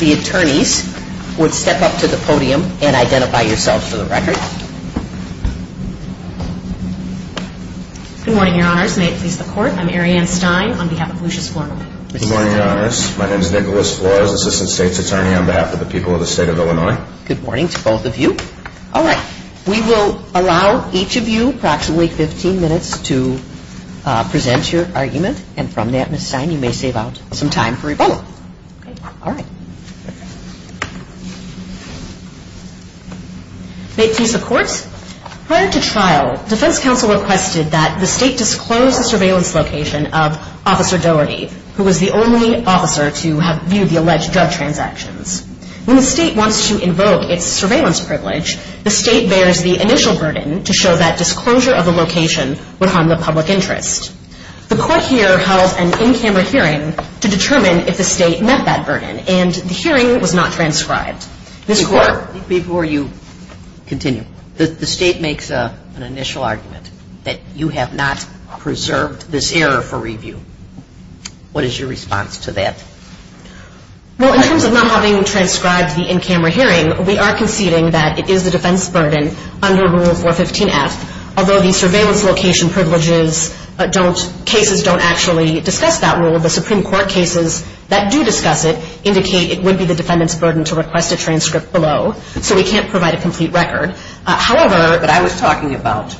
The attorneys would step up to the podium and identify yourselves for the record. Good morning, your honors. May it please the court. I'm Arianne Stein on behalf of Lucious Flournoy. Good morning, your honors. My name is Nicholas Flournoy. I'm the assistant state's attorney on behalf of the people of the state of Illinois. Good morning to both of you. All right. We will allow each of you approximately 15 minutes to present your argument. And from that, Ms. Stein, you may save out some time for your argument. May it please the court. Prior to trial, defense counsel requested that the state disclose the surveillance location of Officer Doherty, who was the only officer to have viewed the alleged drug transactions. When the state wants to invoke its surveillance privilege, the state bears the initial burden to show that disclosure of the location would harm the public interest. The court here held an in-camera hearing to determine if the state met that burden. And the hearing was not transcribed. Before you continue, the state makes an initial argument that you have not preserved this error for review. What is your response to that? Well, in terms of not having transcribed the in-camera hearing, we are conceding that it would be the defendant's burden to request a transcript below. So we can't provide a complete record. However, but I was talking about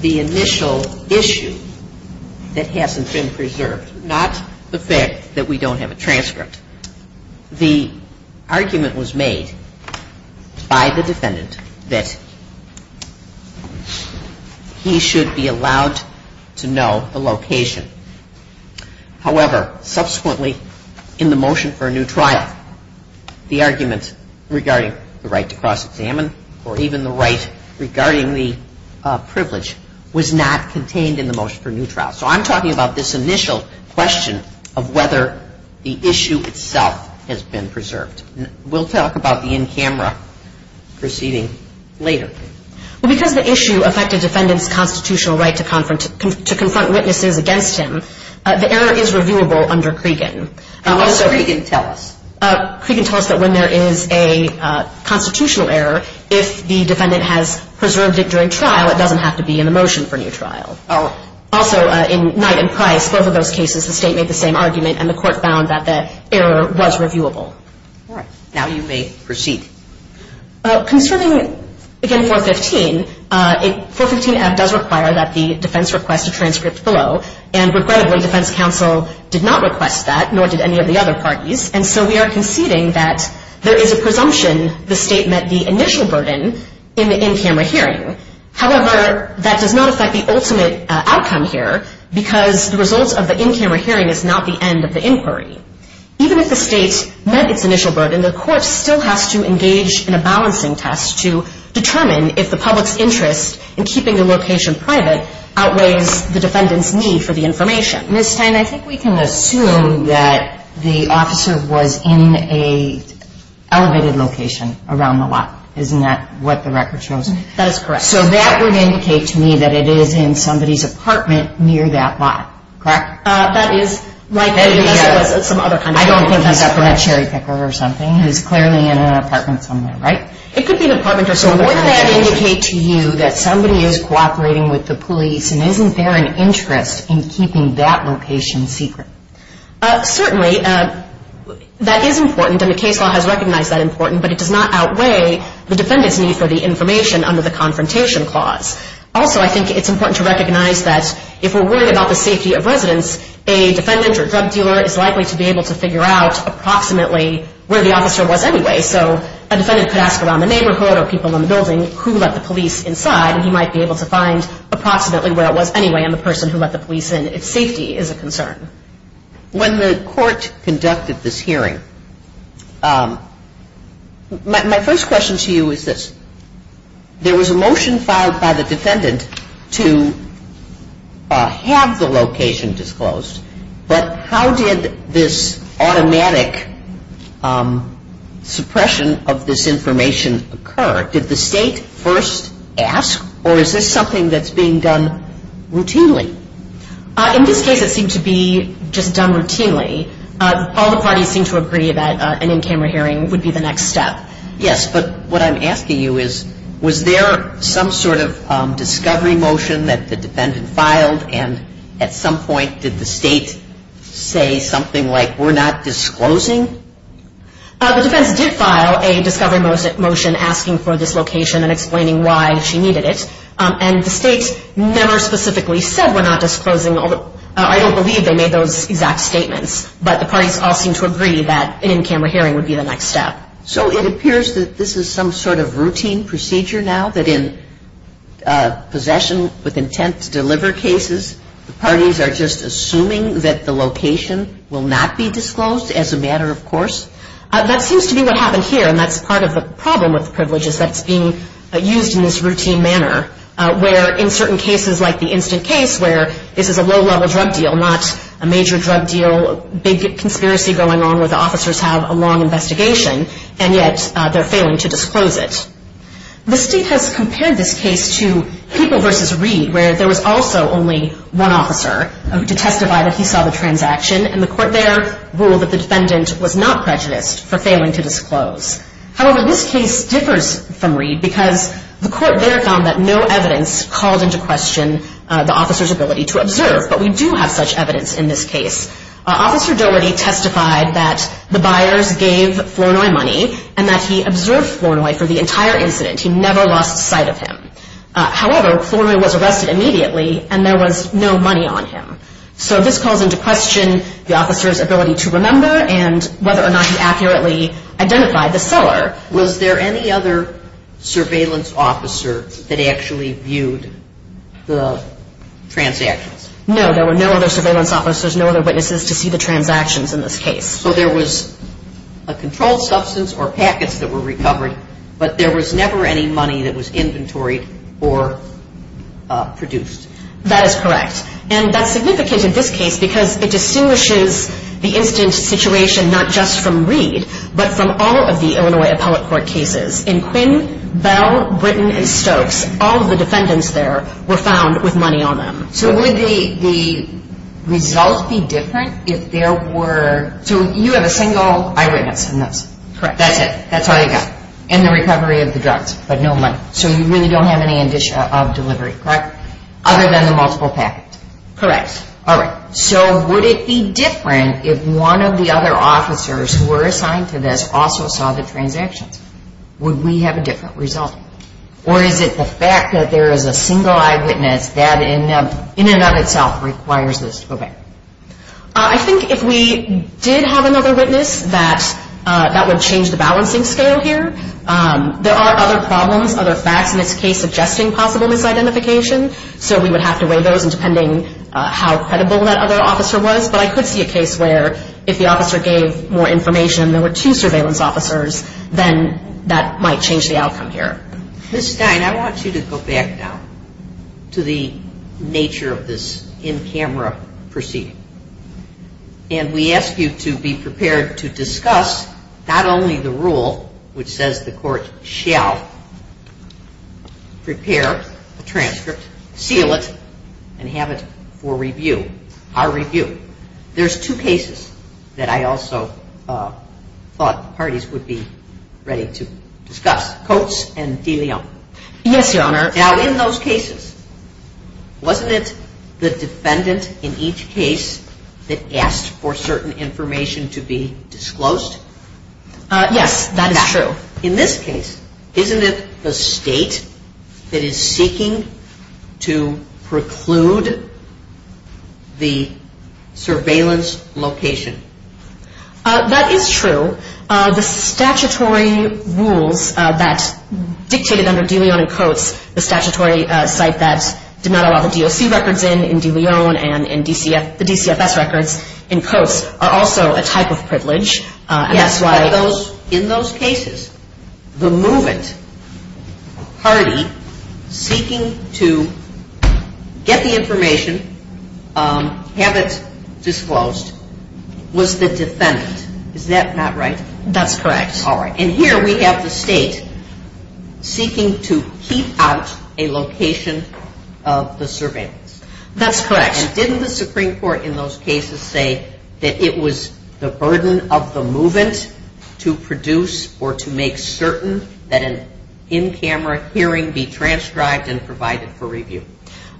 the initial issue that hasn't been preserved, not the fact that we don't have a transcript. The argument was made by the defendant that he should be allowed to know the location However, subsequently in the motion for a new trial, the argument regarding the right to cross-examine or even the right regarding the privilege was not contained in the motion for a new trial. So I'm talking about this initial question of whether the issue itself has been preserved. We'll talk about the in-camera proceeding later. Well, because the issue affected defendant's constitutional right to confront witnesses against him, the error is reviewable under Cregan. What does Cregan tell us? Cregan tells us that when there is a constitutional error, if the defendant has preserved it during trial, it doesn't have to be in the motion for a new trial. Oh. Also, in Knight and Price, both of those cases, the state made the same argument, and the court found that the error was reviewable. All right. Now you may proceed. Concerning, again, 415, 415-F does require that the defense request a transcript below, and regrettably, defense counsel did not request that, nor did any of the other parties, and so we are conceding that there is a presumption the state met the initial burden in the in-camera hearing. However, that does not affect the ultimate outcome here because the results of the Even if the state met its initial burden, the court still has to engage in a balancing test to determine if the public's interest in keeping the location private outweighs the defendant's need for the information. Ms. Stein, I think we can assume that the officer was in an elevated location around the lot. Isn't that what the record shows? That is correct. So that would indicate to me that it is in somebody's apartment near that lot. Correct? That is likely, unless it was some other kind of person. I don't think he was a cherry picker or something. He was clearly in an apartment somewhere, right? It could be an apartment or somewhere. So wouldn't that indicate to you that somebody is cooperating with the police, and isn't there an interest in keeping that location secret? Certainly, that is important, and the case law has recognized that important, but it does not outweigh the defendant's need for the information under the confrontation clause. Also, I think it's important to recognize that if we're worried about the safety of residents, a defendant or drug dealer is likely to be able to figure out approximately where the officer was anyway. So a defendant could ask around the neighborhood or people in the building who let the police inside, and he might be able to find approximately where it was anyway and the person who let the police in if safety is a concern. When the court conducted this hearing, my first question to you is this. There was a motion filed by the defendant to have the location disclosed, but how did this automatic suppression of this information occur? Did the state first ask, or is this something that's being done routinely? In this case, it seemed to be just done routinely. All the parties seemed to agree that an in-camera hearing would be the next step. Yes, but what I'm asking you is, was there some sort of discovery motion that the defendant filed, and at some point did the state say something like, we're not disclosing? The defense did file a discovery motion asking for this location and explaining why she needed it, and the state never specifically said we're not disclosing. I don't believe they made those exact statements, but the parties all seemed to agree that an in-camera hearing would be the next step. So it appears that this is some sort of routine procedure now, that in possession with intent to deliver cases, the parties are just assuming that the location will not be disclosed as a matter of course? That seems to be what happened here, and that's part of the problem with privileges that's being used in this routine manner, where in certain cases like the instant case where this is a low-level drug deal, not a major drug deal, a big conspiracy going on where the officers have a long investigation, and yet they're failing to disclose it. The state has compared this case to People v. Reed, where there was also only one officer to testify that he saw the transaction, and the court there ruled that the defendant was not prejudiced for failing to disclose. However, this case differs from Reed, because the court there found that no evidence called into question the officer's ability to observe, but we do have such evidence in this case. Officer Doherty testified that the buyers gave Flournoy money, and that he observed Flournoy for the entire incident. He never lost sight of him. However, Flournoy was arrested immediately, and there was no money on him. So this calls into question the officer's ability to remember, and whether or not he accurately identified the seller. Was there any other surveillance officer that actually viewed the transactions? No. There were no other surveillance officers, no other witnesses to see the transactions in this case. So there was a controlled substance or packets that were recovered, but there was never any money that was inventoried or produced. That is correct. And that's significant in this case, because it distinguishes the incident situation not just from Reed, but from all of the Illinois Appellate Court cases. In Quinn, Bell, Britton, and Stokes, all of the defendants there were found with money on them. So would the result be different if there were... So you have a single eyewitness in this. Correct. That's it. That's all you've got. And the recovery of the drugs, but no money. So you really don't have any indicia of delivery. Correct. Other than the multiple packets. Correct. All right. So would it be different if one of the other officers who were assigned to this also saw the transactions? Would we have a different result? Or is it the fact that there is a single eyewitness that in and of itself requires this to go back? I think if we did have another witness, that would change the balancing scale here. There are other problems, other facts, in this case suggesting possible misidentification. So we would have to weigh those depending how credible that other officer was. But I could see a case where if the officer gave more information, there were two surveillance officers, then that might change the outcome here. Ms. Stein, I want you to go back now to the nature of this in-camera proceeding. And we ask you to be prepared to discuss not only the rule which says the court shall prepare a transcript, seal it, and have it for review, our review. There's two cases that I also thought the parties would be ready to discuss, Coates and DeLeon. Yes, Your Honor. Now, in those cases, wasn't it the defendant in each case that asked for certain information to be disclosed? Yes, that is true. In this case, isn't it the State that is seeking to preclude the surveillance location? That is true. The statutory rules that dictated under DeLeon and Coates, the statutory site that did not allow the DOC records in DeLeon and the DCFS records in Coates, are also a type of privilege. Yes, but in those cases, the movement party seeking to get the information, have it disclosed, was the defendant. Is that not right? That's correct. All right. And here we have the State seeking to keep out a location of the surveillance. That's correct. And didn't the Supreme Court in those cases say that it was the burden of the movement to produce or to make certain that an in-camera hearing be transcribed and provided for review?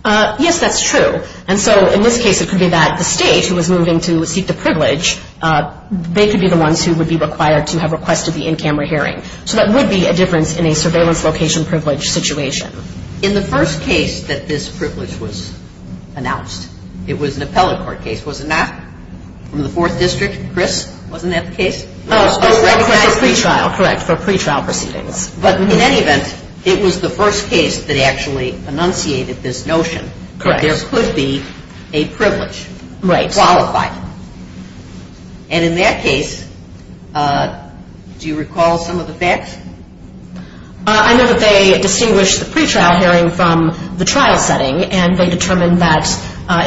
Yes, that's true. And so in this case, it could be that the State who was moving to seek the privilege, they could be the ones who would be required to have requested the in-camera hearing. So that would be a difference in a surveillance location privilege situation. In the first case that this privilege was announced, it was an appellate court case, was it not? In the Fourth District, Chris, wasn't that the case? No, it was for pretrial. Correct, for pretrial proceedings. But in any event, it was the first case that actually enunciated this notion. Correct. There could be a privilege. Right. Qualified. And in that case, do you recall some of the facts? I know that they distinguished the pretrial hearing from the trial setting, and they determined that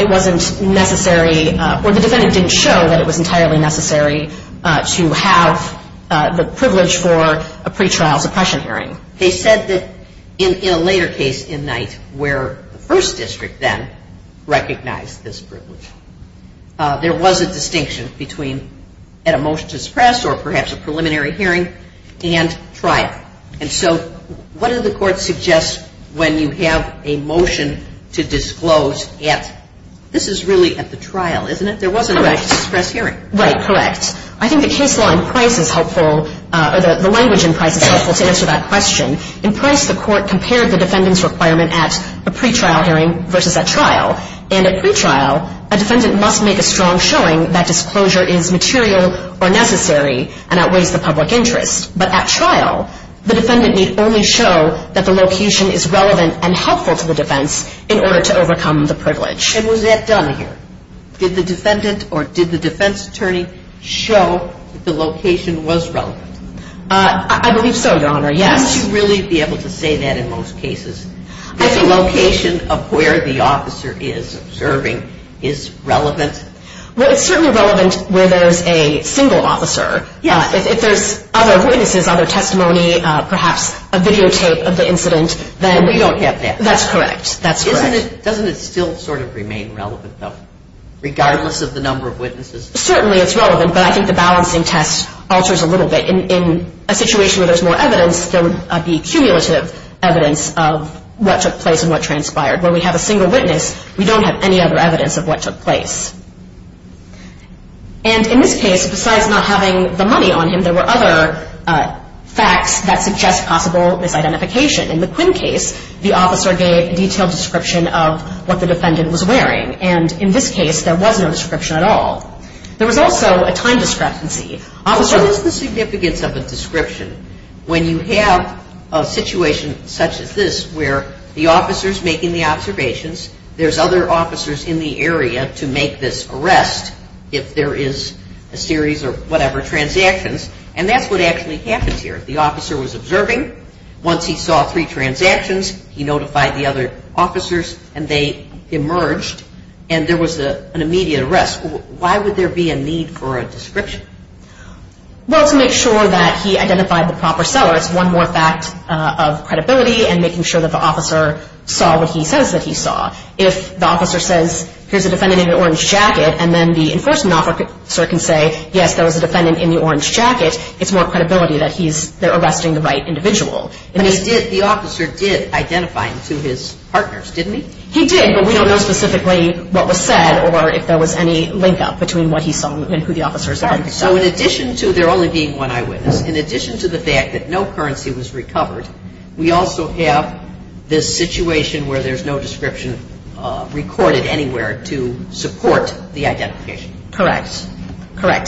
it wasn't necessary, or the defendant didn't show that it was entirely necessary to have the privilege for a pretrial suppression hearing. They said that in a later case in Knight where the First District then recognized this privilege, there was a distinction between a motion to suppress or perhaps a preliminary hearing and trial. And so what do the courts suggest when you have a motion to disclose at, this is really at the trial, isn't it? There was a motion to suppress hearing. Right, correct. I think the case law in Price is helpful, or the language in Price is helpful to answer that question. In Price, the court compared the defendant's requirement at a pretrial hearing versus at trial. And at pretrial, a defendant must make a strong showing that disclosure is material or necessary and outweighs the public interest. But at trial, the defendant need only show that the location is relevant and helpful to the defense in order to overcome the privilege. And was that done here? Did the defendant or did the defense attorney show that the location was relevant? I believe so, Your Honor, yes. Wouldn't you really be able to say that in most cases? That the location of where the officer is serving is relevant? Well, it's certainly relevant where there's a single officer. If there's other witnesses, other testimony, perhaps a videotape of the incident, then we don't get that. That's correct, that's correct. Doesn't it still sort of remain relevant, though, regardless of the number of witnesses? Certainly it's relevant, but I think the balancing test alters a little bit. In a situation where there's more evidence, there would be cumulative evidence of what took place and what transpired. Where we have a single witness, we don't have any other evidence of what took place. And in this case, besides not having the money on him, there were other facts that suggest possible misidentification. In the Quinn case, the officer gave a detailed description of what the defendant was wearing. And in this case, there was no description at all. There was also a time discrepancy. What is the significance of a description when you have a situation such as this where the officer's making the observations, there's other officers in the area to make this arrest, if there is a series of whatever transactions, and that's what actually happens here. The officer was observing. Once he saw three transactions, he notified the other officers, and they emerged, and there was an immediate arrest. Why would there be a need for a description? Well, to make sure that he identified the proper seller. It's one more fact of credibility and making sure that the officer saw what he says that he saw. If the officer says, here's a defendant in an orange jacket, and then the enforcement officer can say, yes, there was a defendant in the orange jacket, it's more credibility that they're arresting the right individual. The officer did identify him to his partners, didn't he? He did, but we don't know specifically what was said or if there was any link-up between what he saw and who the officers identified. So in addition to there only being one eyewitness, in addition to the fact that no currency was recovered, we also have this situation where there's no description recorded anywhere to support the identification. Correct.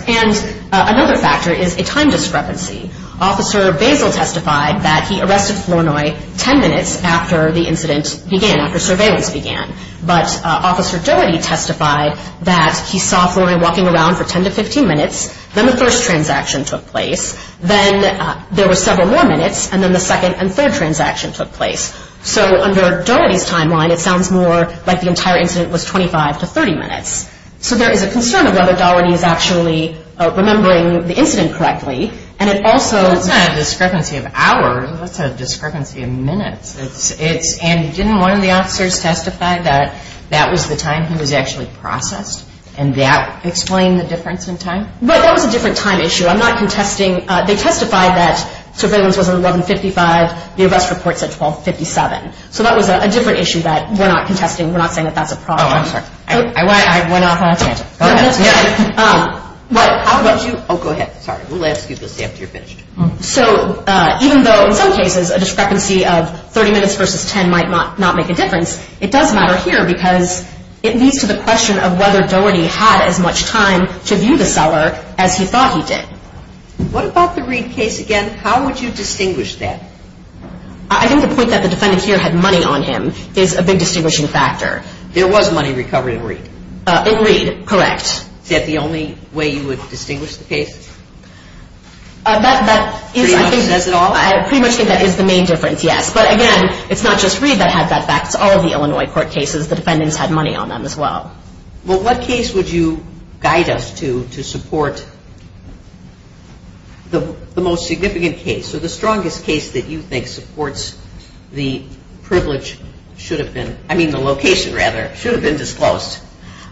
And another factor is a time discrepancy. Officer Basil testified that he arrested Flournoy 10 minutes after the incident began, after surveillance began. But Officer Dougherty testified that he saw Flournoy walking around for 10 to 15 minutes, then the first transaction took place, then there were several more minutes, and then the second and third transaction took place. So under Dougherty's timeline, it sounds more like the entire incident was 25 to 30 minutes. So there is a concern of whether Dougherty is actually remembering the incident correctly, and it also – That's not a discrepancy of hours. That's a discrepancy of minutes. And didn't one of the officers testify that that was the time he was actually processed, and that explained the difference in time? That was a different time issue. I'm not contesting – they testified that surveillance was at 1155. The arrest report said 1257. So that was a different issue that we're not contesting. We're not saying that that's a problem. Oh, I'm sorry. I went off on a tantrum. Go ahead. What – how would you – oh, go ahead. Sorry. We'll ask you this after you're finished. So even though in some cases a discrepancy of 30 minutes versus 10 might not make a difference, it does matter here because it leads to the question of whether Dougherty had as much time to view the seller as he thought he did. What about the Reid case again? How would you distinguish that? I think the point that the defendant here had money on him is a big distinguishing factor. There was money recovered in Reid. In Reid, correct. Is that the only way you would distinguish the case? That is, I think – Pretty much says it all? I pretty much think that is the main difference, yes. But, again, it's not just Reid that had that back. It's all of the Illinois court cases. The defendants had money on them as well. Well, what case would you guide us to to support the most significant case or the strongest case that you think supports the privilege should have been – I mean the location, rather – should have been disclosed?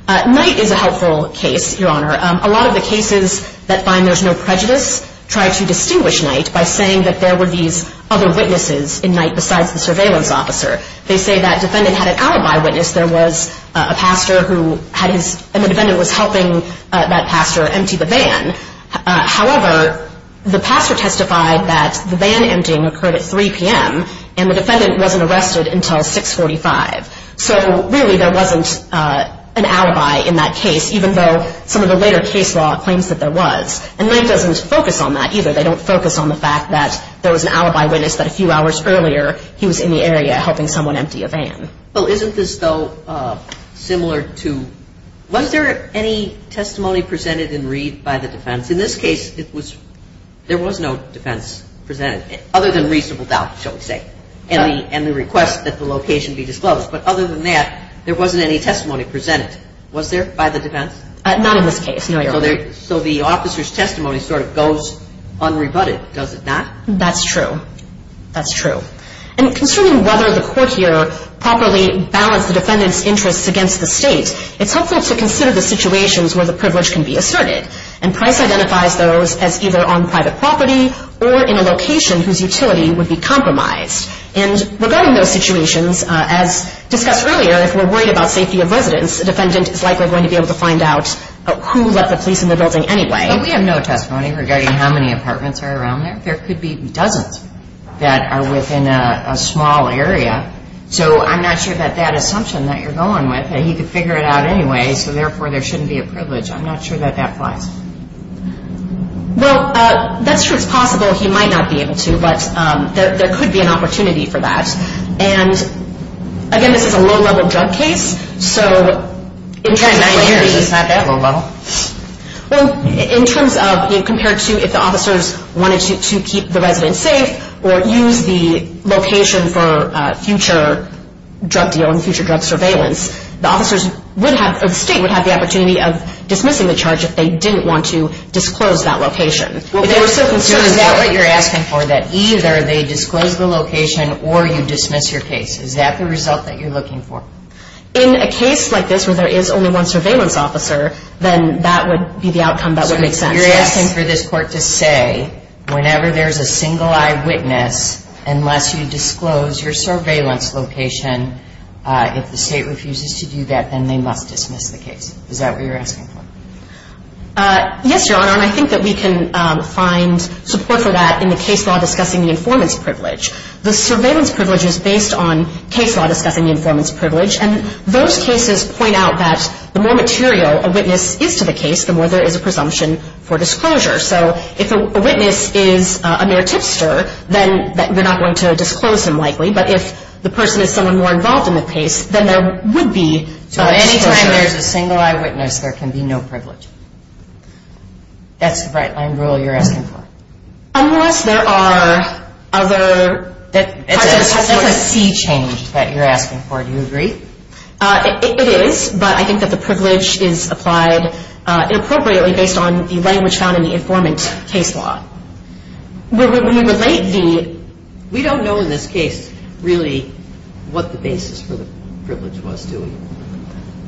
Knight is a helpful case, Your Honor. A lot of the cases that find there's no prejudice try to distinguish Knight by saying that there were these other witnesses in Knight besides the surveillance officer. They say that defendant had an alibi witness. There was a pastor who had his – and the defendant was helping that pastor empty the van. However, the pastor testified that the van emptying occurred at 3 p.m. and the defendant wasn't arrested until 6.45. So, really, there wasn't an alibi in that case, even though some of the later case law claims that there was. And Knight doesn't focus on that either. They don't focus on the fact that there was an alibi witness that a few hours earlier he was in the area helping someone empty a van. Well, isn't this, though, similar to – was there any testimony presented in Reid by the defense? In this case, it was – there was no defense presented, other than reasonable doubt, shall we say, and the request that the location be disclosed. But other than that, there wasn't any testimony presented, was there, by the defense? Not in this case, no, Your Honor. So the officer's testimony sort of goes unrebutted, does it not? That's true. That's true. And concerning whether the court here properly balanced the defendant's interests against the State, it's helpful to consider the situations where the privilege can be asserted. And Price identifies those as either on private property or in a location whose utility would be compromised. And regarding those situations, as discussed earlier, if we're worried about safety of residents, the defendant is likely going to be able to find out who let the police in the building anyway. But we have no testimony regarding how many apartments are around there. There could be dozens that are within a small area. So I'm not sure that that assumption that you're going with, that he could figure it out anyway, so therefore there shouldn't be a privilege, I'm not sure that that applies. Well, that's true. It's possible he might not be able to, but there could be an opportunity for that. And, again, this is a low-level drug case. So in terms of what he hears, it's not that low-level. Well, in terms of compared to if the officers wanted to keep the residents safe or use the location for future drug deal and future drug surveillance, the state would have the opportunity of dismissing the charge if they didn't want to disclose that location. Is that what you're asking for, that either they disclose the location or you dismiss your case? Is that the result that you're looking for? In a case like this where there is only one surveillance officer, then that would be the outcome that would make sense. So you're asking for this court to say whenever there's a single eyewitness, unless you disclose your surveillance location, if the state refuses to do that, then they must dismiss the case. Is that what you're asking for? Yes, Your Honor, and I think that we can find support for that in the case law discussing the informant's privilege. The surveillance privilege is based on case law discussing the informant's privilege, and those cases point out that the more material a witness is to the case, the more there is a presumption for disclosure. So if a witness is a mere tipster, then they're not going to disclose him likely, but if the person is someone more involved in the case, then there would be disclosure. So any time there's a single eyewitness, there can be no privilege? That's the bright-line rule you're asking for? Unless there are other parts of the testimony. That's a C change that you're asking for. Do you agree? It is, but I think that the privilege is applied inappropriately based on the language found in the informant's case law. We don't know in this case really what the basis for the privilege was, do we?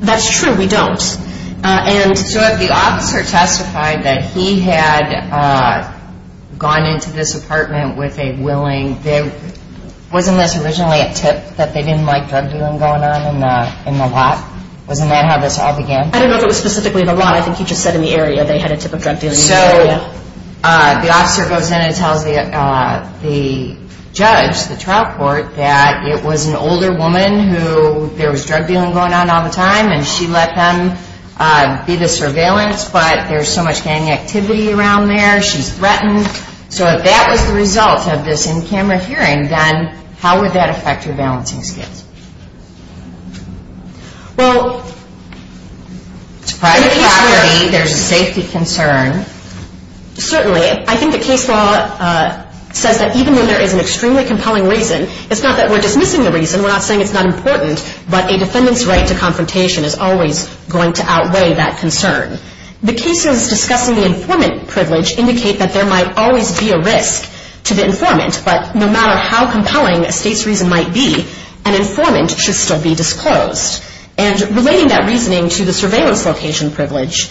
That's true, we don't. So if the officer testified that he had gone into this apartment with a willing, wasn't this originally a tip that they didn't like drug dealing going on in the lot? Wasn't that how this all began? I don't know if it was specifically in the lot. I think you just said in the area they had a tip of drug dealing in the area. So the officer goes in and tells the judge, the trial court, that it was an older woman who, there was drug dealing going on all the time, and she let them be the surveillance, but there's so much gang activity around there, she's threatened. So if that was the result of this in-camera hearing, then how would that affect your balancing skills? Well, in the case where there's a safety concern, certainly. I think the case law says that even when there is an extremely compelling reason, it's not that we're dismissing the reason, we're not saying it's not important, but a defendant's right to confrontation is always going to outweigh that concern. The cases discussing the informant privilege indicate that there might always be a risk to the informant, but no matter how compelling a state's reason might be, an informant should still be disclosed. And relating that reasoning to the surveillance location privilege,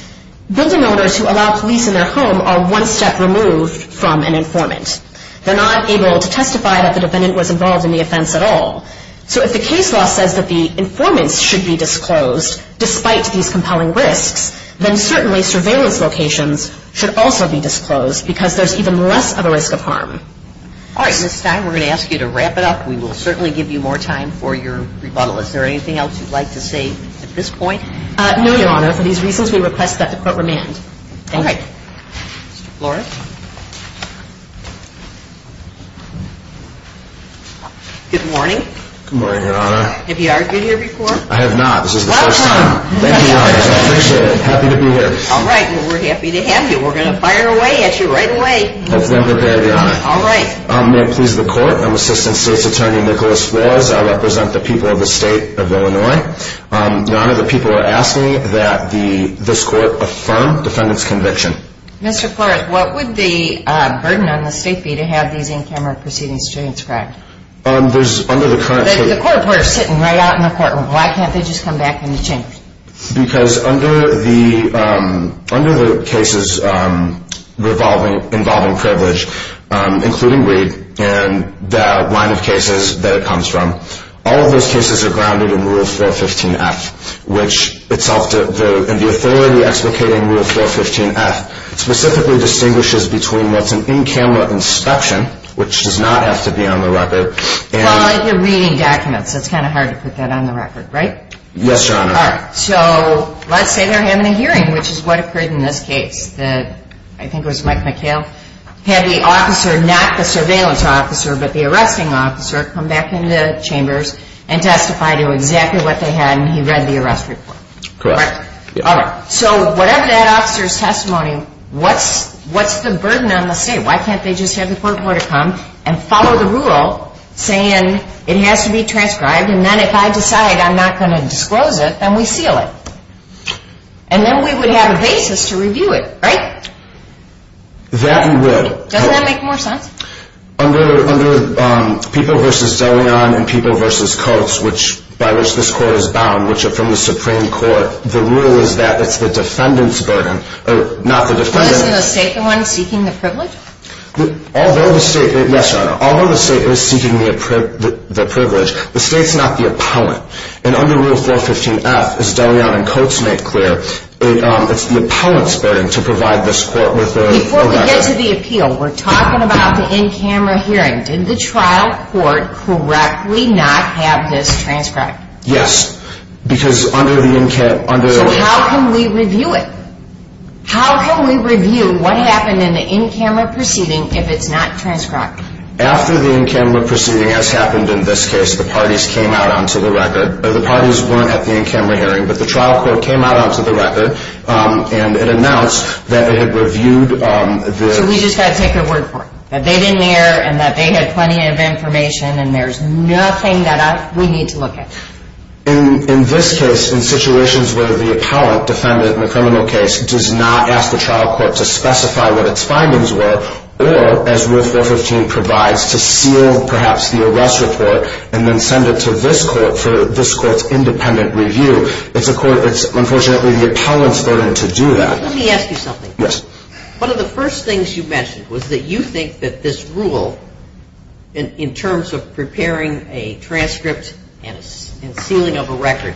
building owners who allow police in their home are one step removed from an informant. They're not able to testify that the defendant was involved in the offense at all. So if the case law says that the informants should be disclosed, despite these compelling risks, then certainly surveillance locations should also be disclosed because there's even less of a risk of harm. All right. Ms. Stein, we're going to ask you to wrap it up. We will certainly give you more time for your rebuttal. Is there anything else you'd like to say at this point? No, Your Honor. For these reasons, we request that the Court remand. All right. Mr. Flores? Good morning. Good morning, Your Honor. Have you argued here before? I have not. This is the first time. Thank you, Your Honor. I appreciate it. I'm happy to be here. All right. Well, we're happy to have you. We're going to fire away at you right away. Hopefully I'm prepared, Your Honor. All right. May it please the Court, I'm Assistant State's Attorney Nicholas Flores. I represent the people of the State of Illinois. Your Honor, the people are asking that this Court affirm defendant's conviction. Mr. Flores, what would the burden on the State be to have these in-camera proceedings transcribed? There's, under the current state… But the court reporter is sitting right out in the courtroom. Why can't they just come back in the chambers? Because under the cases involving privilege, including Reed, and the line of cases that it comes from, all of those cases are grounded in Rule 415-F, which itself, and the authority explicating Rule 415-F specifically distinguishes between what's an in-camera inspection, which does not have to be on the record, and… Well, they're reading documents. It's kind of hard to put that on the record, right? Yes, Your Honor. All right. So let's say they're having a hearing, which is what occurred in this case. I think it was Mike McHale had the officer, not the surveillance officer, but the arresting officer, come back into the chambers and testify to exactly what they had, and he read the arrest report. Correct. All right. So whatever that officer's testimony, what's the burden on the State? Why can't they just have the court order come and follow the rule saying it has to be transcribed, and then if I decide I'm not going to disclose it, then we seal it, and then we would have a basis to review it, right? That we would. Doesn't that make more sense? Under People v. DeLeon and People v. Coates, by which this Court is bound, which are from the Supreme Court, the rule is that it's the defendant's burden, not the defendant's. Is the State the one seeking the privilege? Yes, Your Honor. Although the State is seeking the privilege, the State's not the appellant. And under Rule 415F, as DeLeon and Coates make clear, it's the appellant's burden to provide this Court with the record. Before we get to the appeal, we're talking about the in-camera hearing. Did the trial court correctly not have this transcribed? Yes, because under the in-camera – So how can we review it? How can we review what happened in the in-camera proceeding if it's not transcribed? After the in-camera proceeding has happened in this case, the parties came out onto the record. The parties weren't at the in-camera hearing, but the trial court came out onto the record, and it announced that it had reviewed the – So we just got to take their word for it, that they didn't err, and that they had plenty of information, and there's nothing that we need to look at. In this case, in situations where the appellant, defendant in the criminal case, does not ask the trial court to specify what its findings were, or, as Rule 415 provides, to seal, perhaps, the arrest report, and then send it to this Court for this Court's independent review, it's unfortunately the appellant's burden to do that. Let me ask you something. Yes. One of the first things you mentioned was that you think that this rule, in terms of preparing a transcript and sealing of a record,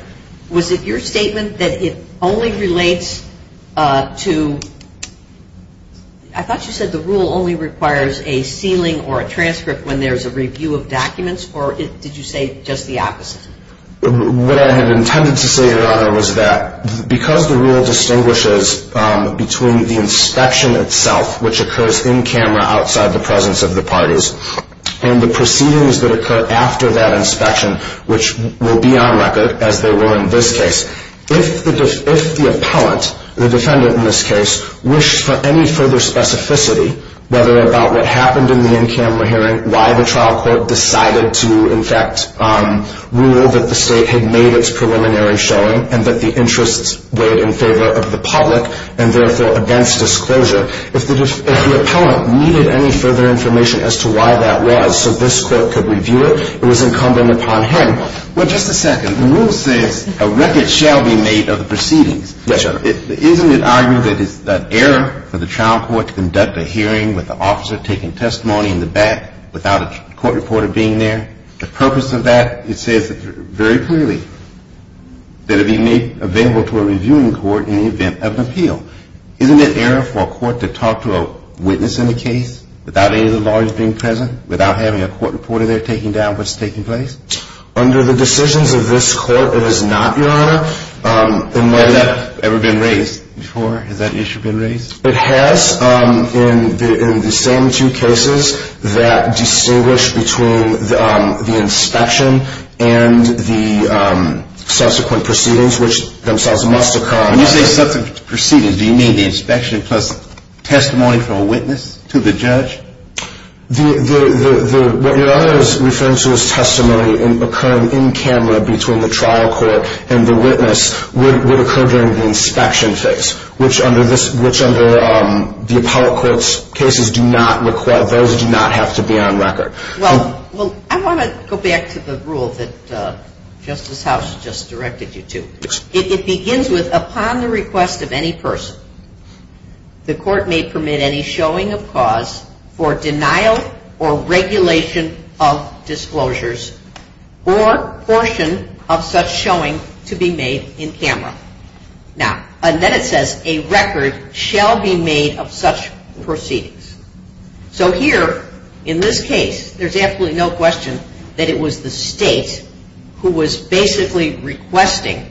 was it your statement that it only relates to – I thought you said the rule only requires a sealing or a transcript when there's a review of documents, or did you say just the opposite? What I had intended to say, Your Honor, was that because the rule distinguishes between the inspection itself, which occurs in-camera outside the presence of the parties, and the proceedings that occur after that inspection, which will be on record, as they will in this case, if the appellant, the defendant in this case, wished for any further specificity, whether about what happened in the in-camera hearing, why the trial court decided to, in fact, rule that the State had made its preliminary showing, and that the interests weighed in favor of the public, and therefore against disclosure, if the appellant needed any further information as to why that was so this court could review it, it was incumbent upon him. Well, just a second. The rule says a record shall be made of the proceedings. Yes, Your Honor. Isn't it argument that it's an error for the trial court to conduct a hearing with the officer taking testimony in the back without a court reporter being there? The purpose of that, it says very clearly, that it be made available to a reviewing court in the event of an appeal. Isn't it error for a court to talk to a witness in the case without any of the lawyers being present, without having a court reporter there taking down what's taking place? Under the decisions of this court, it is not, Your Honor. And has that ever been raised before? Has that issue been raised? It has in the same two cases that distinguish between the inspection and the subsequent proceedings, which themselves must occur. When you say subsequent proceedings, do you mean the inspection plus testimony from a witness to the judge? What Your Honor is referring to is testimony occurring in camera between the trial court and the witness would occur during the inspection phase, which under the appellate court's cases do not require, those do not have to be on record. Well, I want to go back to the rule that Justice House just directed you to. It begins with, upon the request of any person, the court may permit any showing of cause for denial or regulation of disclosures or portion of such showing to be made in camera. Now, and then it says, a record shall be made of such proceedings. So here, in this case, there's absolutely no question that it was the state who was basically requesting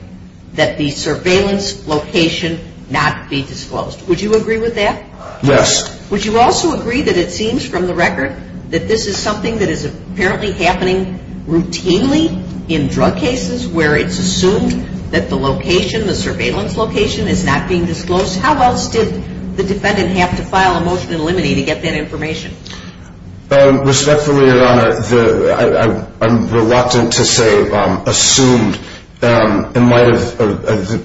that the surveillance location not be disclosed. Would you agree with that? Yes. Would you also agree that it seems from the record that this is something that is apparently happening routinely in drug cases where it's assumed that the location, the surveillance location, is not being disclosed? How else did the defendant have to file a motion in limine to get that information? Respectfully, Your Honor, I'm reluctant to say assumed in light of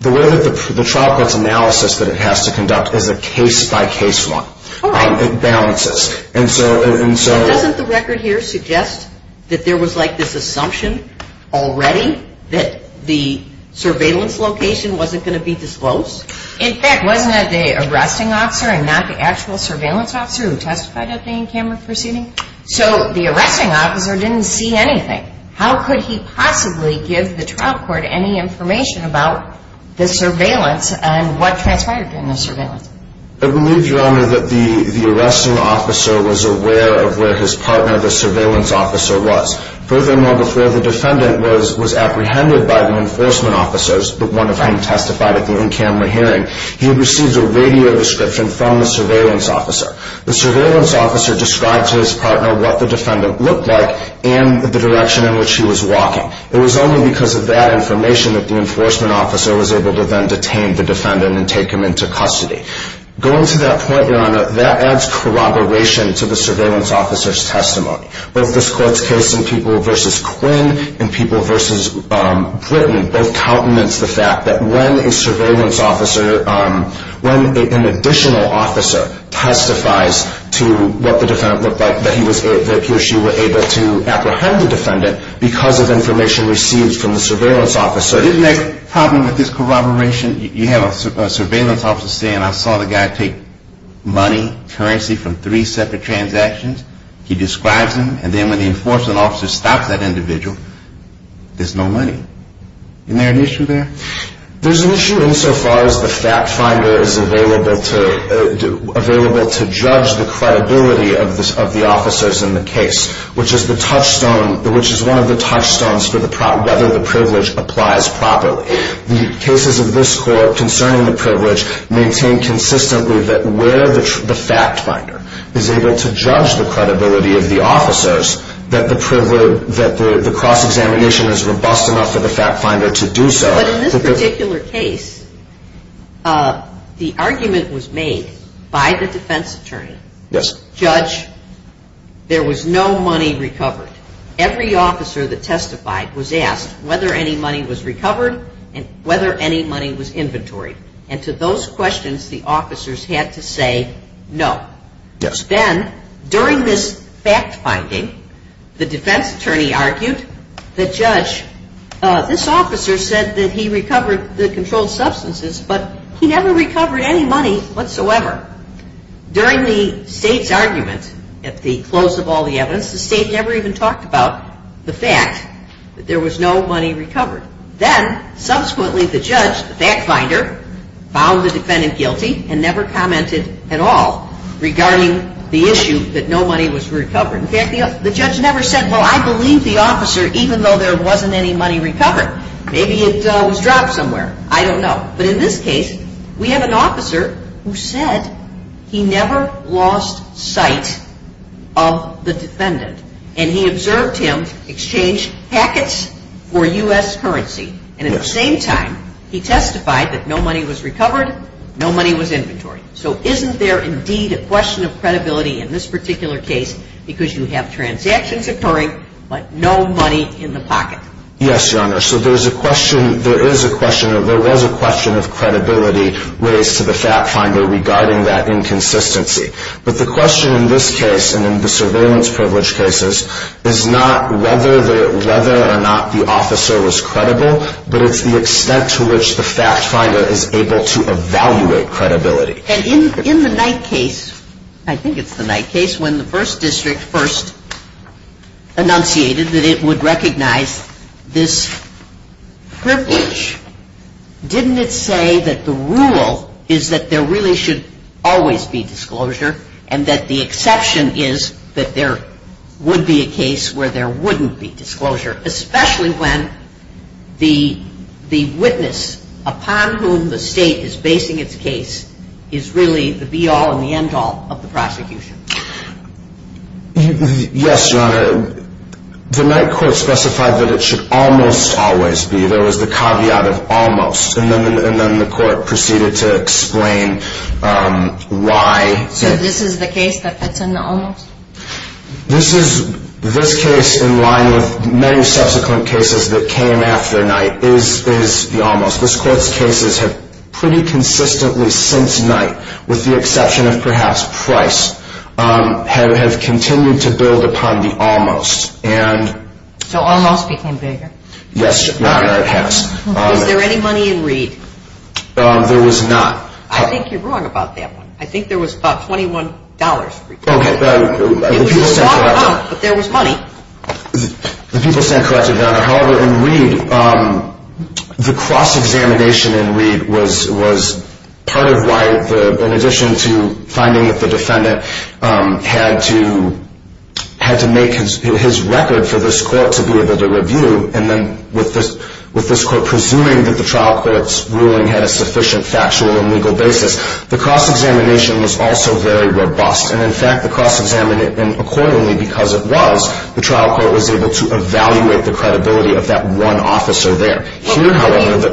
the way that the trial court's analysis that it has to conduct is a case-by-case one. All right. It balances. Doesn't the record here suggest that there was like this assumption already that the surveillance location wasn't going to be disclosed? In fact, wasn't it the arresting officer and not the actual surveillance officer who testified at the in-camera proceeding? So the arresting officer didn't see anything. How could he possibly give the trial court any information about the surveillance and what transpired during the surveillance? I believe, Your Honor, that the arresting officer was aware of where his partner, the surveillance officer, was. Furthermore, the defendant was apprehended by the enforcement officers, one of whom testified at the in-camera hearing. He had received a radio description from the surveillance officer. The surveillance officer described to his partner what the defendant looked like and the direction in which he was walking. It was only because of that information that the enforcement officer was able to then detain the defendant and take him into custody. Going to that point, Your Honor, that adds corroboration to the surveillance officer's testimony. Both this Court's case in people versus Quinn and people versus Britton both countenance the fact that when a surveillance officer, when an additional officer testifies to what the defendant looked like, that he or she were able to apprehend the defendant because of information received from the surveillance officer. Isn't that the problem with this corroboration? You have a surveillance officer saying, I saw the guy take money, currency, from three separate transactions. He describes him, and then when the enforcement officer stops that individual, there's no money. Isn't there an issue there? There's an issue insofar as the fact finder is available to judge the credibility of the officers in the case, which is the touchstone, which is one of the touchstones for whether the privilege applies properly. The cases of this Court concerning the privilege maintain consistently that where the fact finder is able to judge the credibility of the officers, that the cross-examination is robust enough for the fact finder to do so. But in this particular case, the argument was made by the defense attorney. Yes. Judge, there was no money recovered. Every officer that testified was asked whether any money was recovered and whether any money was inventoried. And to those questions, the officers had to say no. Yes. Then, during this fact finding, the defense attorney argued the judge, this officer said that he recovered the controlled substances, but he never recovered any money whatsoever. During the state's argument at the close of all the evidence, the state never even talked about the fact that there was no money recovered. Then, subsequently, the judge, the fact finder, found the defendant guilty and never commented at all regarding the issue that no money was recovered. In fact, the judge never said, well, I believe the officer, even though there wasn't any money recovered. Maybe it was dropped somewhere. I don't know. But in this case, we have an officer who said he never lost sight of the defendant. And he observed him exchange packets for U.S. currency. And at the same time, he testified that no money was recovered, no money was inventoried. So isn't there, indeed, a question of credibility in this particular case because you have transactions occurring but no money in the pocket? Yes, Your Honor. So there is a question of credibility raised to the fact finder regarding that inconsistency. But the question in this case and in the surveillance privilege cases is not whether or not the officer was credible, but it's the extent to which the fact finder is able to evaluate credibility. And in the Knight case, I think it's the Knight case, when the first district first enunciated that it would recognize this privilege, didn't it say that the rule is that there really should always be disclosure and that the exception is that there would be a case where there wouldn't be disclosure, especially when the witness upon whom the state is basing its case is really the be-all and the end-all of the prosecution? Yes, Your Honor. The Knight court specified that it should almost always be. There was the caveat of almost, and then the court proceeded to explain why. So this is the case that's in the almost? This case, in line with many subsequent cases that came after Knight, is the almost. This court's cases have pretty consistently since Knight, with the exception of perhaps Price, have continued to build upon the almost. So almost became bigger? Yes, Your Honor, it has. Was there any money in Reed? There was not. I think you're wrong about that one. I think there was about $21. Okay. It was a water pump, but there was money. The people stand corrected, Your Honor. However, in Reed, the cross-examination in Reed was part of why, in addition to finding that the defendant had to make his record for this court to be able to review, and then with this court presuming that the trial court's ruling had a sufficient factual and legal basis, the cross-examination was also very robust. And, in fact, the cross-examination accordingly, because it was, the trial court was able to evaluate the credibility of that one officer there.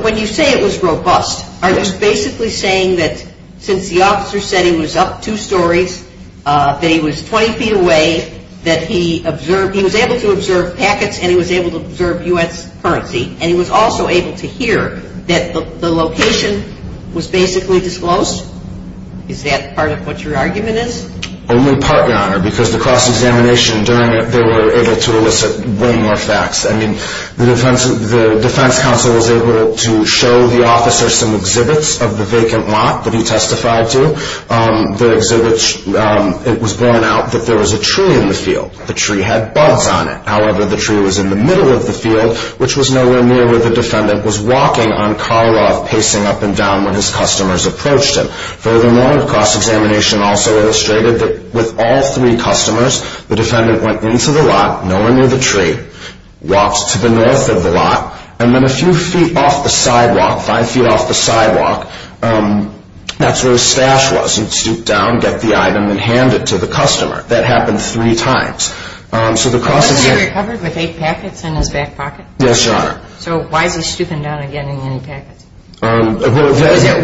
When you say it was robust, are you basically saying that since the officer said he was up two stories, that he was 20 feet away, that he was able to observe packets, and he was able to observe U.S. currency, and he was also able to hear that the location was basically disclosed? Is that part of what your argument is? Only part, Your Honor, because the cross-examination during it, they were able to elicit way more facts. I mean, the defense counsel was able to show the officer some exhibits of the vacant lot that he testified to. The exhibits, it was borne out that there was a tree in the field. The tree had bugs on it. However, the tree was in the middle of the field, which was nowhere near where the defendant was walking on Karloff, pacing up and down when his customers approached him. Furthermore, the cross-examination also illustrated that with all three customers, the defendant went into the lot, nowhere near the tree, walked to the north of the lot, and then a few feet off the sidewalk, that's where his stash was. He'd stoop down, get the item, and hand it to the customer. That happened three times. Wasn't he recovered with eight packets in his back pocket? Yes, Your Honor. So why is he stooping down again in any packets? Were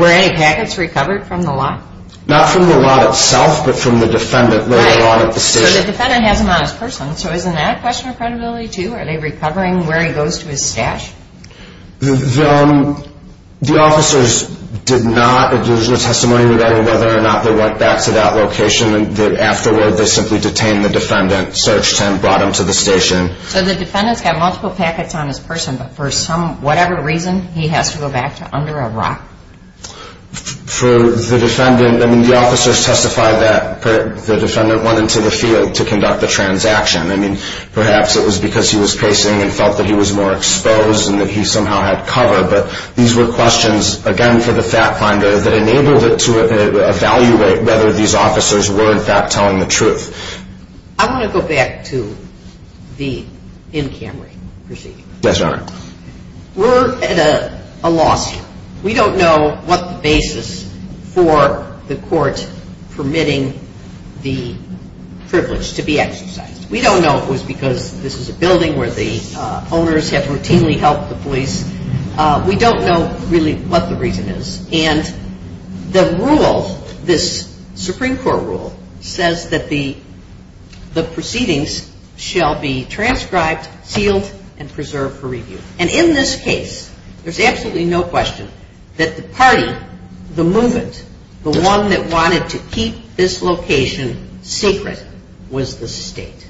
any packets recovered from the lot? Not from the lot itself, but from the defendant later on at the station. Right, so the defendant has them on his person. So isn't that a question of credibility, too? Are they recovering where he goes to his stash? The officers did not. There's no testimony regarding whether or not they went back to that location. Afterward, they simply detained the defendant, searched him, brought him to the station. So the defendant's got multiple packets on his person, but for whatever reason he has to go back to under a rock? For the defendant, the officers testified that the defendant went into the field to conduct the transaction. Perhaps it was because he was pacing and felt that he was more exposed and that he somehow had cover, but these were questions, again, for the fact finder that enabled it to evaluate whether these officers were, in fact, telling the truth. I want to go back to the in Camry proceeding. Yes, Your Honor. We're at a lawsuit. We don't know what the basis for the court permitting the privilege to be exercised. We don't know if it was because this is a building where the owners have routinely helped the police. We don't know really what the reason is, and the rule, this Supreme Court rule, says that the proceedings shall be transcribed, sealed, and preserved for review. And in this case, there's absolutely no question that the party, the movement, the one that wanted to keep this location secret was the state.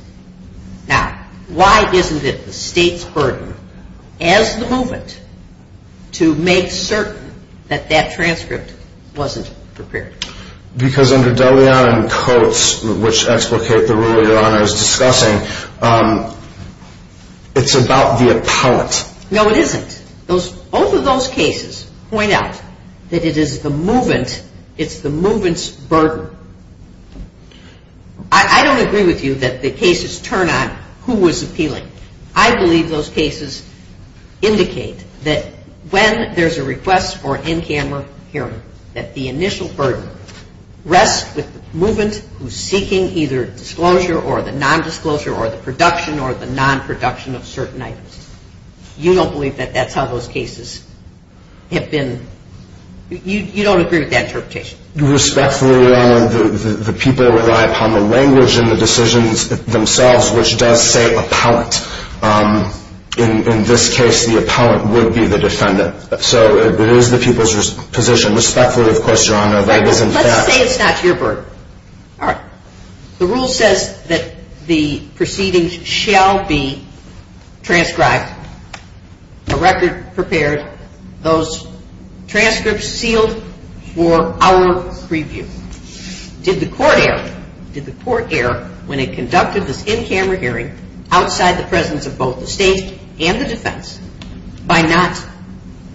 Now, why isn't it the state's burden, as the movement, to make certain that that transcript wasn't prepared? Because under Deleon and Coates, which explicate the rule Your Honor is discussing, it's about the appellant. No, it isn't. Both of those cases point out that it is the movement's burden. I don't agree with you that the cases turn on who was appealing. I believe those cases indicate that when there's a request for an in-camera hearing, that the initial burden rests with the movement who's seeking either disclosure or the non-disclosure or the production or the non-production of certain items. You don't believe that that's how those cases have been? You don't agree with that interpretation? Respectfully, Your Honor, the people rely upon the language and the decisions themselves, which does say appellant. In this case, the appellant would be the defendant. So it is the people's position. Respectfully, of course, Your Honor, that is in fact. Let's say it's not your burden. All right. The rule says that the proceedings shall be transcribed, a record prepared, those transcripts sealed for our preview. Did the court err? Did the court err when it conducted this in-camera hearing outside the presence of both the state and the defense by not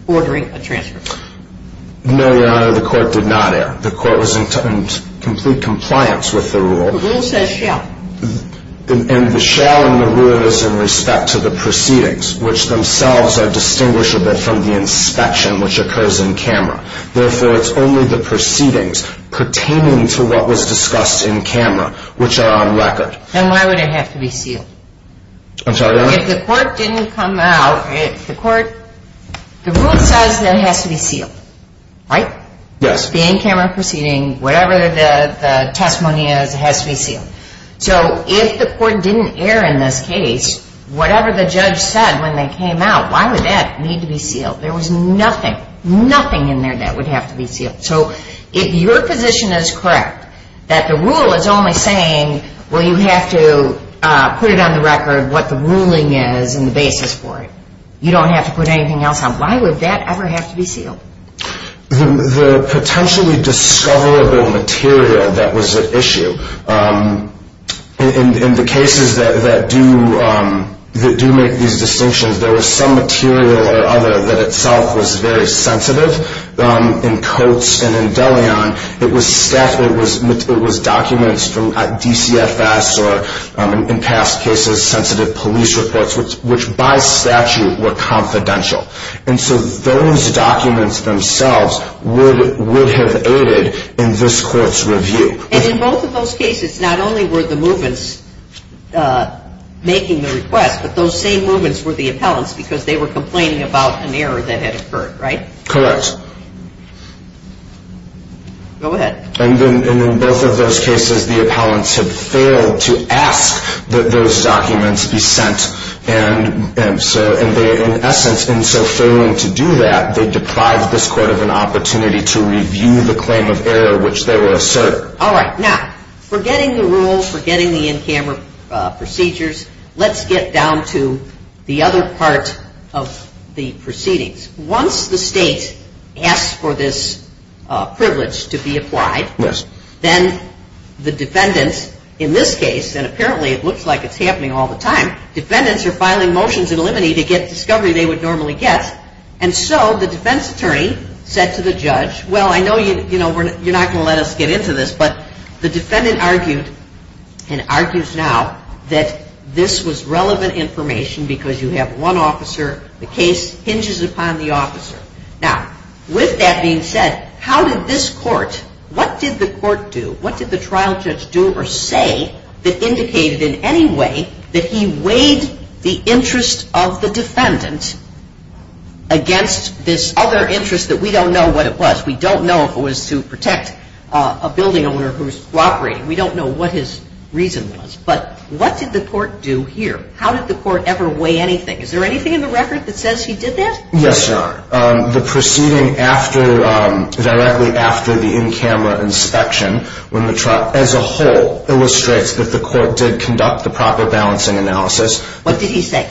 ordering a transcript? No, Your Honor, the court did not err. The court was in complete compliance with the rule. The rule says shall. And the shall and the rule is in respect to the proceedings, which themselves are distinguishable from the inspection, which occurs in-camera. Therefore, it's only the proceedings pertaining to what was discussed in-camera, which are on record. Then why would it have to be sealed? I'm sorry, Your Honor? If the court didn't come out, the court, the rule says that it has to be sealed, right? Yes. Whether it's the in-camera proceeding, whatever the testimony is, it has to be sealed. So if the court didn't err in this case, whatever the judge said when they came out, why would that need to be sealed? There was nothing, nothing in there that would have to be sealed. So if your position is correct, that the rule is only saying, well, you have to put it on the record what the ruling is and the basis for it, you don't have to put anything else on, why would that ever have to be sealed? The potentially discoverable material that was at issue, in the cases that do make these distinctions, there was some material or other that itself was very sensitive. In Coates and in Deleon, it was documents from DCFS or, in past cases, sensitive police reports, which by statute were confidential. And so those documents themselves would have aided in this court's review. And in both of those cases, not only were the movements making the request, but those same movements were the appellants, because they were complaining about an error that had occurred, right? Correct. Go ahead. And in both of those cases, the appellants had failed to ask that those documents be sent. And so in essence, in so failing to do that, they deprived this court of an opportunity to review the claim of error, which they were asserted. All right. Now, forgetting the rules, forgetting the in-camera procedures, let's get down to the other part of the proceedings. Once the state asks for this privilege to be applied, then the defendants, in this case, and apparently it looks like it's happening all the time, defendants are filing motions in limine to get discovery they would normally get. And so the defense attorney said to the judge, well, I know you're not going to let us get into this, but the defendant argued and argues now that this was relevant information because you have one officer, the case hinges upon the officer. Now, with that being said, how did this court, what did the court do? What did the trial judge do or say that indicated in any way that he weighed the interest of the defendant against this other interest that we don't know what it was? We don't know if it was to protect a building owner who was robberied. We don't know what his reason was. But what did the court do here? How did the court ever weigh anything? Is there anything in the record that says he did that? Yes, Your Honor. The proceeding directly after the in-camera inspection, when the trial as a whole illustrates that the court did conduct the proper balancing analysis. What did he say?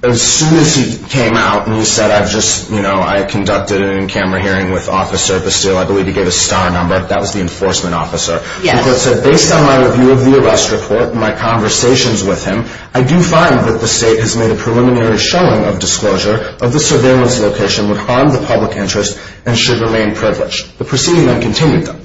As soon as he came out and he said, I've just, you know, I conducted an in-camera hearing with Officer Bastille. I believe he gave a star number. That was the enforcement officer. The court said, based on my review of the arrest report and my conversations with him, I do find that the state has made a preliminary showing of disclosure of the surveillance location would harm the public interest and should remain privileged. The proceeding then continued, though.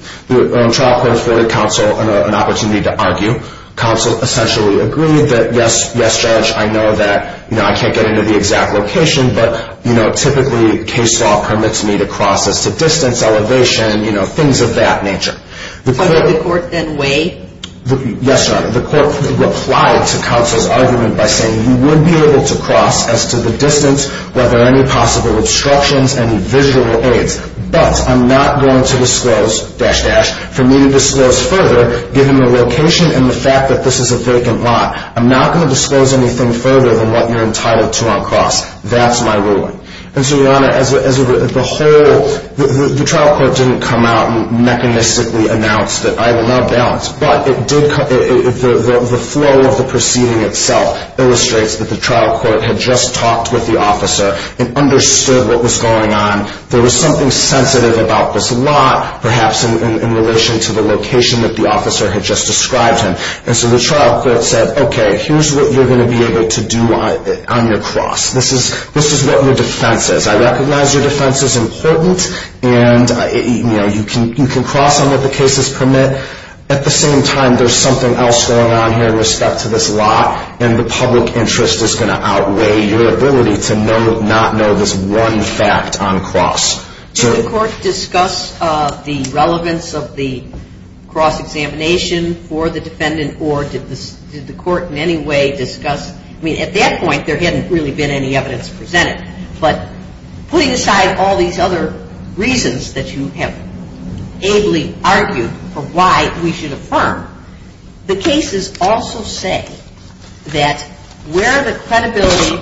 The trial court afforded counsel an opportunity to argue. Counsel essentially agreed that, yes, yes, Judge, I know that, you know, I can't get into the exact location, but, you know, typically case law permits me to cross as to distance, elevation, you know, things of that nature. How did the court then weigh? Yes, Your Honor. The court replied to counsel's argument by saying he would be able to cross as to the distance, whether any possible obstructions, any visual aids. But I'm not going to disclose, dash, dash, for me to disclose further, given the location and the fact that this is a vacant lot. I'm not going to disclose anything further than what you're entitled to on cross. That's my ruling. And so, Your Honor, as a whole, the trial court didn't come out and mechanistically announce that I will not balance. But it did, the flow of the proceeding itself illustrates that the trial court had just talked with the officer and understood what was going on. There was something sensitive about this lot, perhaps, in relation to the location that the officer had just described him. And so the trial court said, okay, here's what you're going to be able to do on your cross. This is what your defense is. I recognize your defense is important, and, you know, you can cross on what the cases permit. At the same time, there's something else going on here in respect to this lot, and the public interest is going to outweigh your ability to not know this one fact on cross. Did the court discuss the relevance of the cross examination for the defendant, or did the court in any way discuss? I mean, at that point, there hadn't really been any evidence presented. But putting aside all these other reasons that you have ably argued for why we should affirm, the cases also say that where the credibility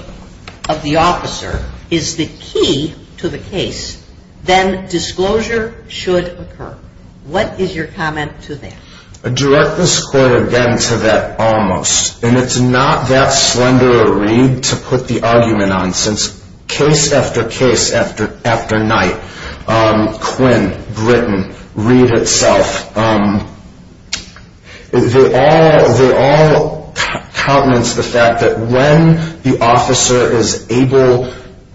of the officer is the key to the case, then disclosure should occur. What is your comment to that? I direct this court, again, to that almost. And it's not that slender a read to put the argument on, For instance, case after case after night, Quinn, Britton, Reed itself, they all countenance the fact that when the officer is able,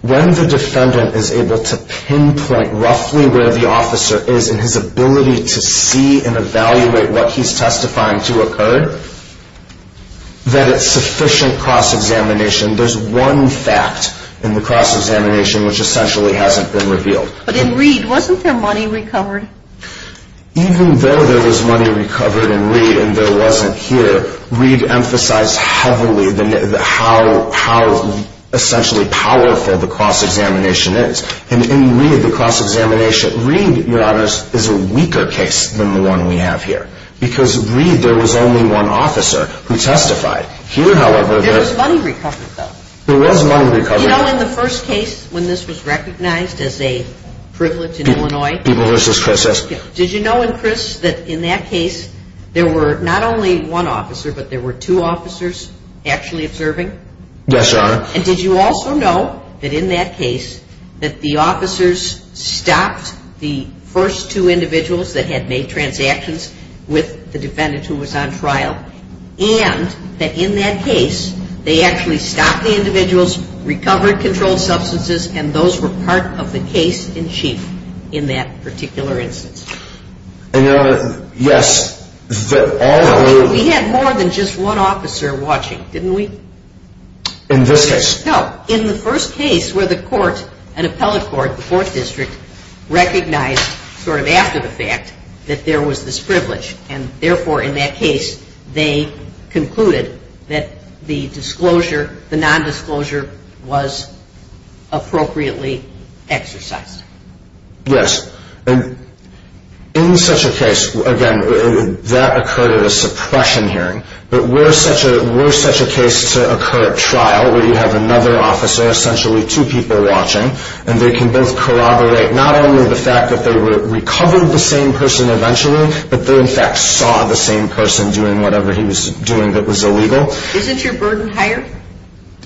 when the defendant is able to pinpoint roughly where the officer is in his ability to see and evaluate what he's testifying to occur, that it's sufficient cross examination. There's one fact in the cross examination which essentially hasn't been revealed. But in Reed, wasn't there money recovered? Even though there was money recovered in Reed and there wasn't here, Reed emphasized heavily how essentially powerful the cross examination is. And in Reed, the cross examination, Reed, Your Honors, is a weaker case than the one we have here. Because in Reed, there was only one officer who testified. Here, however, there was money recovered, though. There was money recovered. You know, in the first case, when this was recognized as a privilege in Illinois, People versus process. Did you know, in Chris, that in that case, there were not only one officer, but there were two officers actually observing? Yes, Your Honor. And did you also know that in that case, that the officers stopped the first two individuals that had made transactions with the defendant who was on trial and that in that case, they actually stopped the individuals, recovered controlled substances, and those were part of the case in chief in that particular instance? Yes. We had more than just one officer watching, didn't we? In this case? No. In the first case where the court, an appellate court, the Fourth District, recognized sort of after the fact that there was this privilege and, therefore, in that case, they concluded that the disclosure, the nondisclosure was appropriately exercised. Yes. In such a case, again, that occurred at a suppression hearing, but were such a case to occur at trial where you have another officer, essentially two people watching, and they can both corroborate not only the fact that they recovered the same person eventually but they, in fact, saw the same person doing whatever he was doing that was illegal. Isn't your burden higher?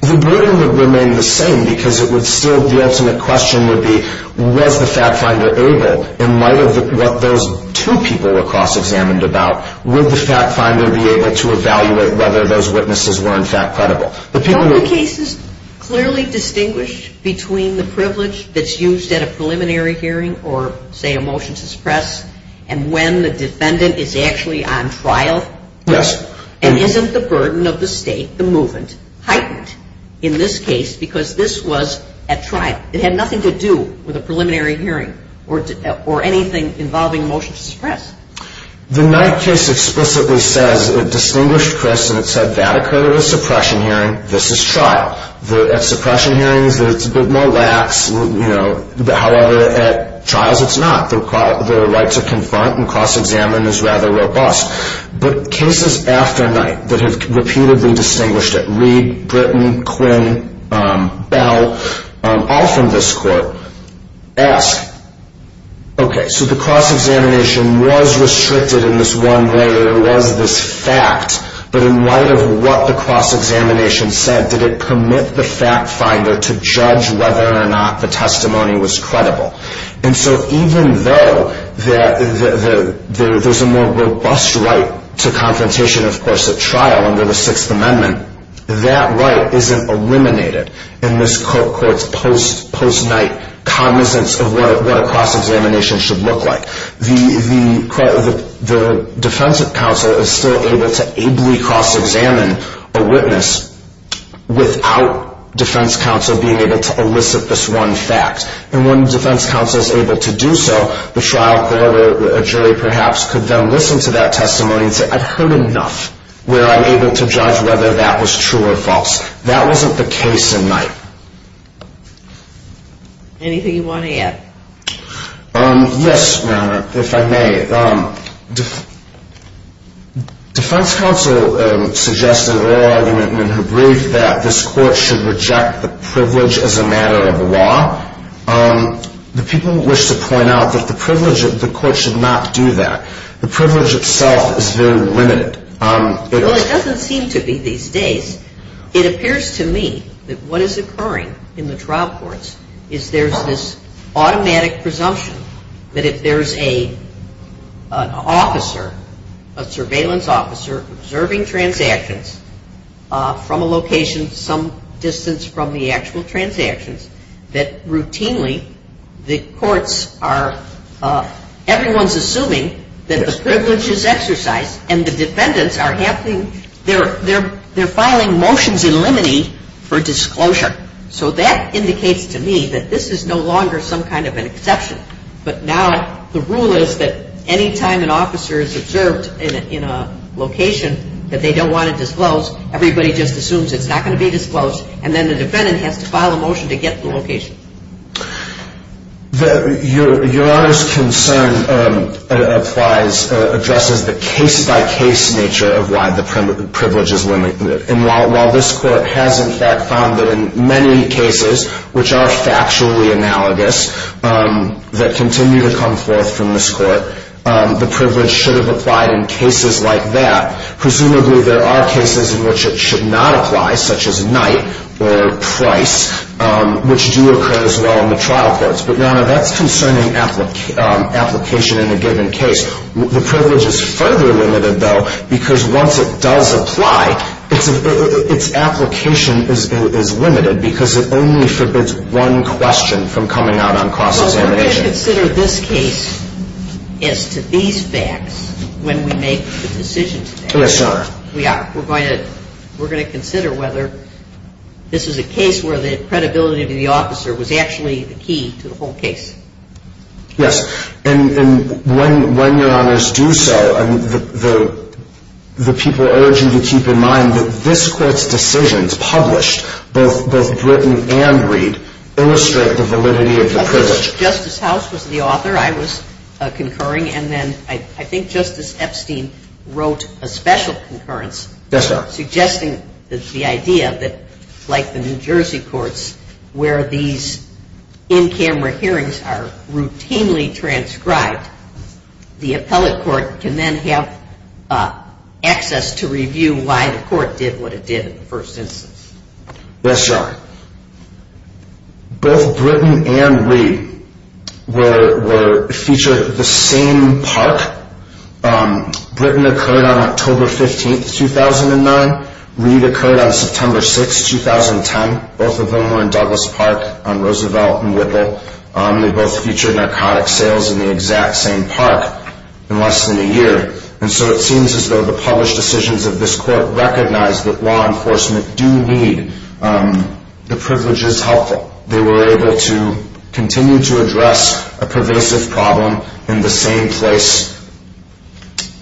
The burden would remain the same because it would still, the ultimate question would be was the fact finder able, in light of what those two people were cross-examined about, would the fact finder be able to evaluate whether those witnesses were, in fact, credible? Don't the cases clearly distinguish between the privilege that's used at a preliminary hearing or, say, a motion to suppress and when the defendant is actually on trial? Yes. And isn't the burden of the state, the movement, heightened in this case because this was at trial? It had nothing to do with a preliminary hearing or anything involving a motion to suppress. The Knight case explicitly says it distinguished, Chris, and it said that occurred at a suppression hearing. This is trial. At suppression hearings, it's a bit more lax. However, at trials, it's not. The rights are confront and cross-examine is rather robust. But cases after Knight that have repeatedly distinguished it, Reid, Britton, Quinn, Bell, all from this court, ask, okay, so the cross-examination was restricted in this one layer, it was this fact, but in light of what the cross-examination said, did it permit the fact finder to judge whether or not the testimony was credible? And so even though there's a more robust right to confrontation, of course, at trial under the Sixth Amendment, that right isn't eliminated in this court's post-Knight cognizance of what a cross-examination should look like. The defense counsel is still able to ably cross-examine a witness without defense counsel being able to elicit this one fact. And when defense counsel is able to do so, the trial court or jury, perhaps, could then listen to that testimony and say, I've heard enough, where I'm able to judge whether that was true or false. That wasn't the case in Knight. Anything you want to add? Yes, Your Honor, if I may. Defense counsel suggested in their argument in their brief that this court should reject the privilege as a matter of law. The people wish to point out that the privilege of the court should not do that. The privilege itself is very limited. Well, it doesn't seem to be these days. It appears to me that what is occurring in the trial courts is there's this automatic presumption that if there's an officer, a surveillance officer, observing transactions from a location some distance from the actual transactions, that routinely the courts are, everyone's assuming that the privilege is exercised and the defendants are filing motions in limine for disclosure. So that indicates to me that this is no longer some kind of an exception, but now the rule is that any time an officer is observed in a location that they don't want to disclose, everybody just assumes it's not going to be disclosed, and then the defendant has to file a motion to get the location. Your Honor's concern applies, addresses the case-by-case nature of why the privilege is limited. And while this court has in fact found that in many cases, which are factually analogous, that continue to come forth from this court, the privilege should have applied in cases like that. Presumably there are cases in which it should not apply, such as night or price, which do occur as well in the trial courts. But, Your Honor, that's concerning application in a given case. The privilege is further limited, though, because once it does apply, its application is limited because it only forbids one question from coming out on cross-examination. We're going to consider this case as to these facts when we make the decision today. Yes, Your Honor. We are. We're going to consider whether this is a case where the credibility of the officer was actually the key to the whole case. Yes. And when Your Honors do so, the people urge you to keep in mind that this court's decisions published, both written and read, illustrate the validity of the privilege. Justice House was the author. I was concurring, and then I think Justice Epstein wrote a special concurrence. Yes, Your Honor. Suggesting the idea that, like the New Jersey courts, where these in-camera hearings are routinely transcribed, the appellate court can then have access to review why the court did what it did in the first instance. Yes, Your Honor. Both written and read were featured at the same park. Written occurred on October 15, 2009. Read occurred on September 6, 2010. Both of them were in Douglas Park on Roosevelt and Whipple. They both featured narcotic sales in the exact same park in less than a year. And so it seems as though the published decisions of this court recognize that law enforcement do need the privileges helpful. They were able to continue to address a pervasive problem in the same place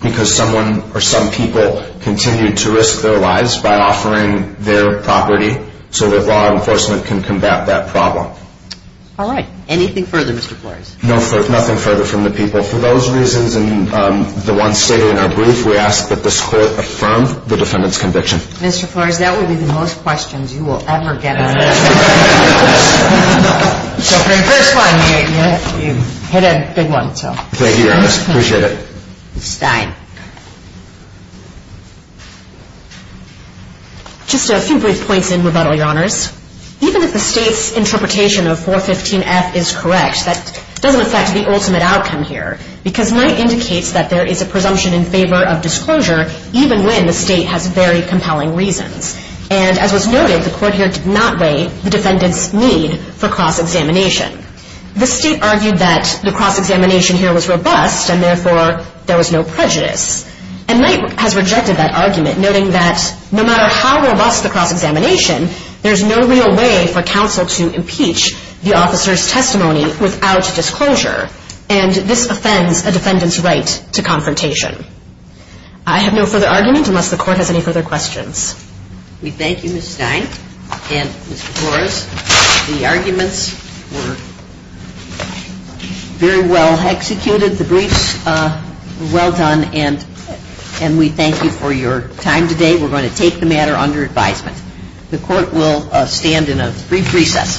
because someone or some people continued to risk their lives by offering their property so that law enforcement can combat that problem. All right. Anything further, Mr. Flores? No further. Nothing further from the people. For those reasons and the ones stated in our brief, we ask that this court affirm the defendant's conviction. Mr. Flores, that would be the most questions you will ever get. So for your first one, you hit a big one. Thank you, Your Honor. Appreciate it. Stein. Just a few brief points in rebuttal, Your Honors. Even if the State's interpretation of 415F is correct, that doesn't affect the ultimate outcome here. Because Knight indicates that there is a presumption in favor of disclosure even when the State has very compelling reasons. And as was noted, the court here did not weigh the defendant's need for cross-examination. The State argued that the cross-examination here was robust and therefore there was no prejudice. And Knight has rejected that argument, noting that no matter how robust the cross-examination, there's no real way for counsel to impeach the officer's testimony without disclosure. And this offends a defendant's right to confrontation. I have no further argument unless the Court has any further questions. We thank you, Ms. Stein. And, Mr. Flores, the arguments were very well executed. The briefs were well done. And we thank you for your time today. We're going to take the matter under advisement. The Court will stand in a brief recess.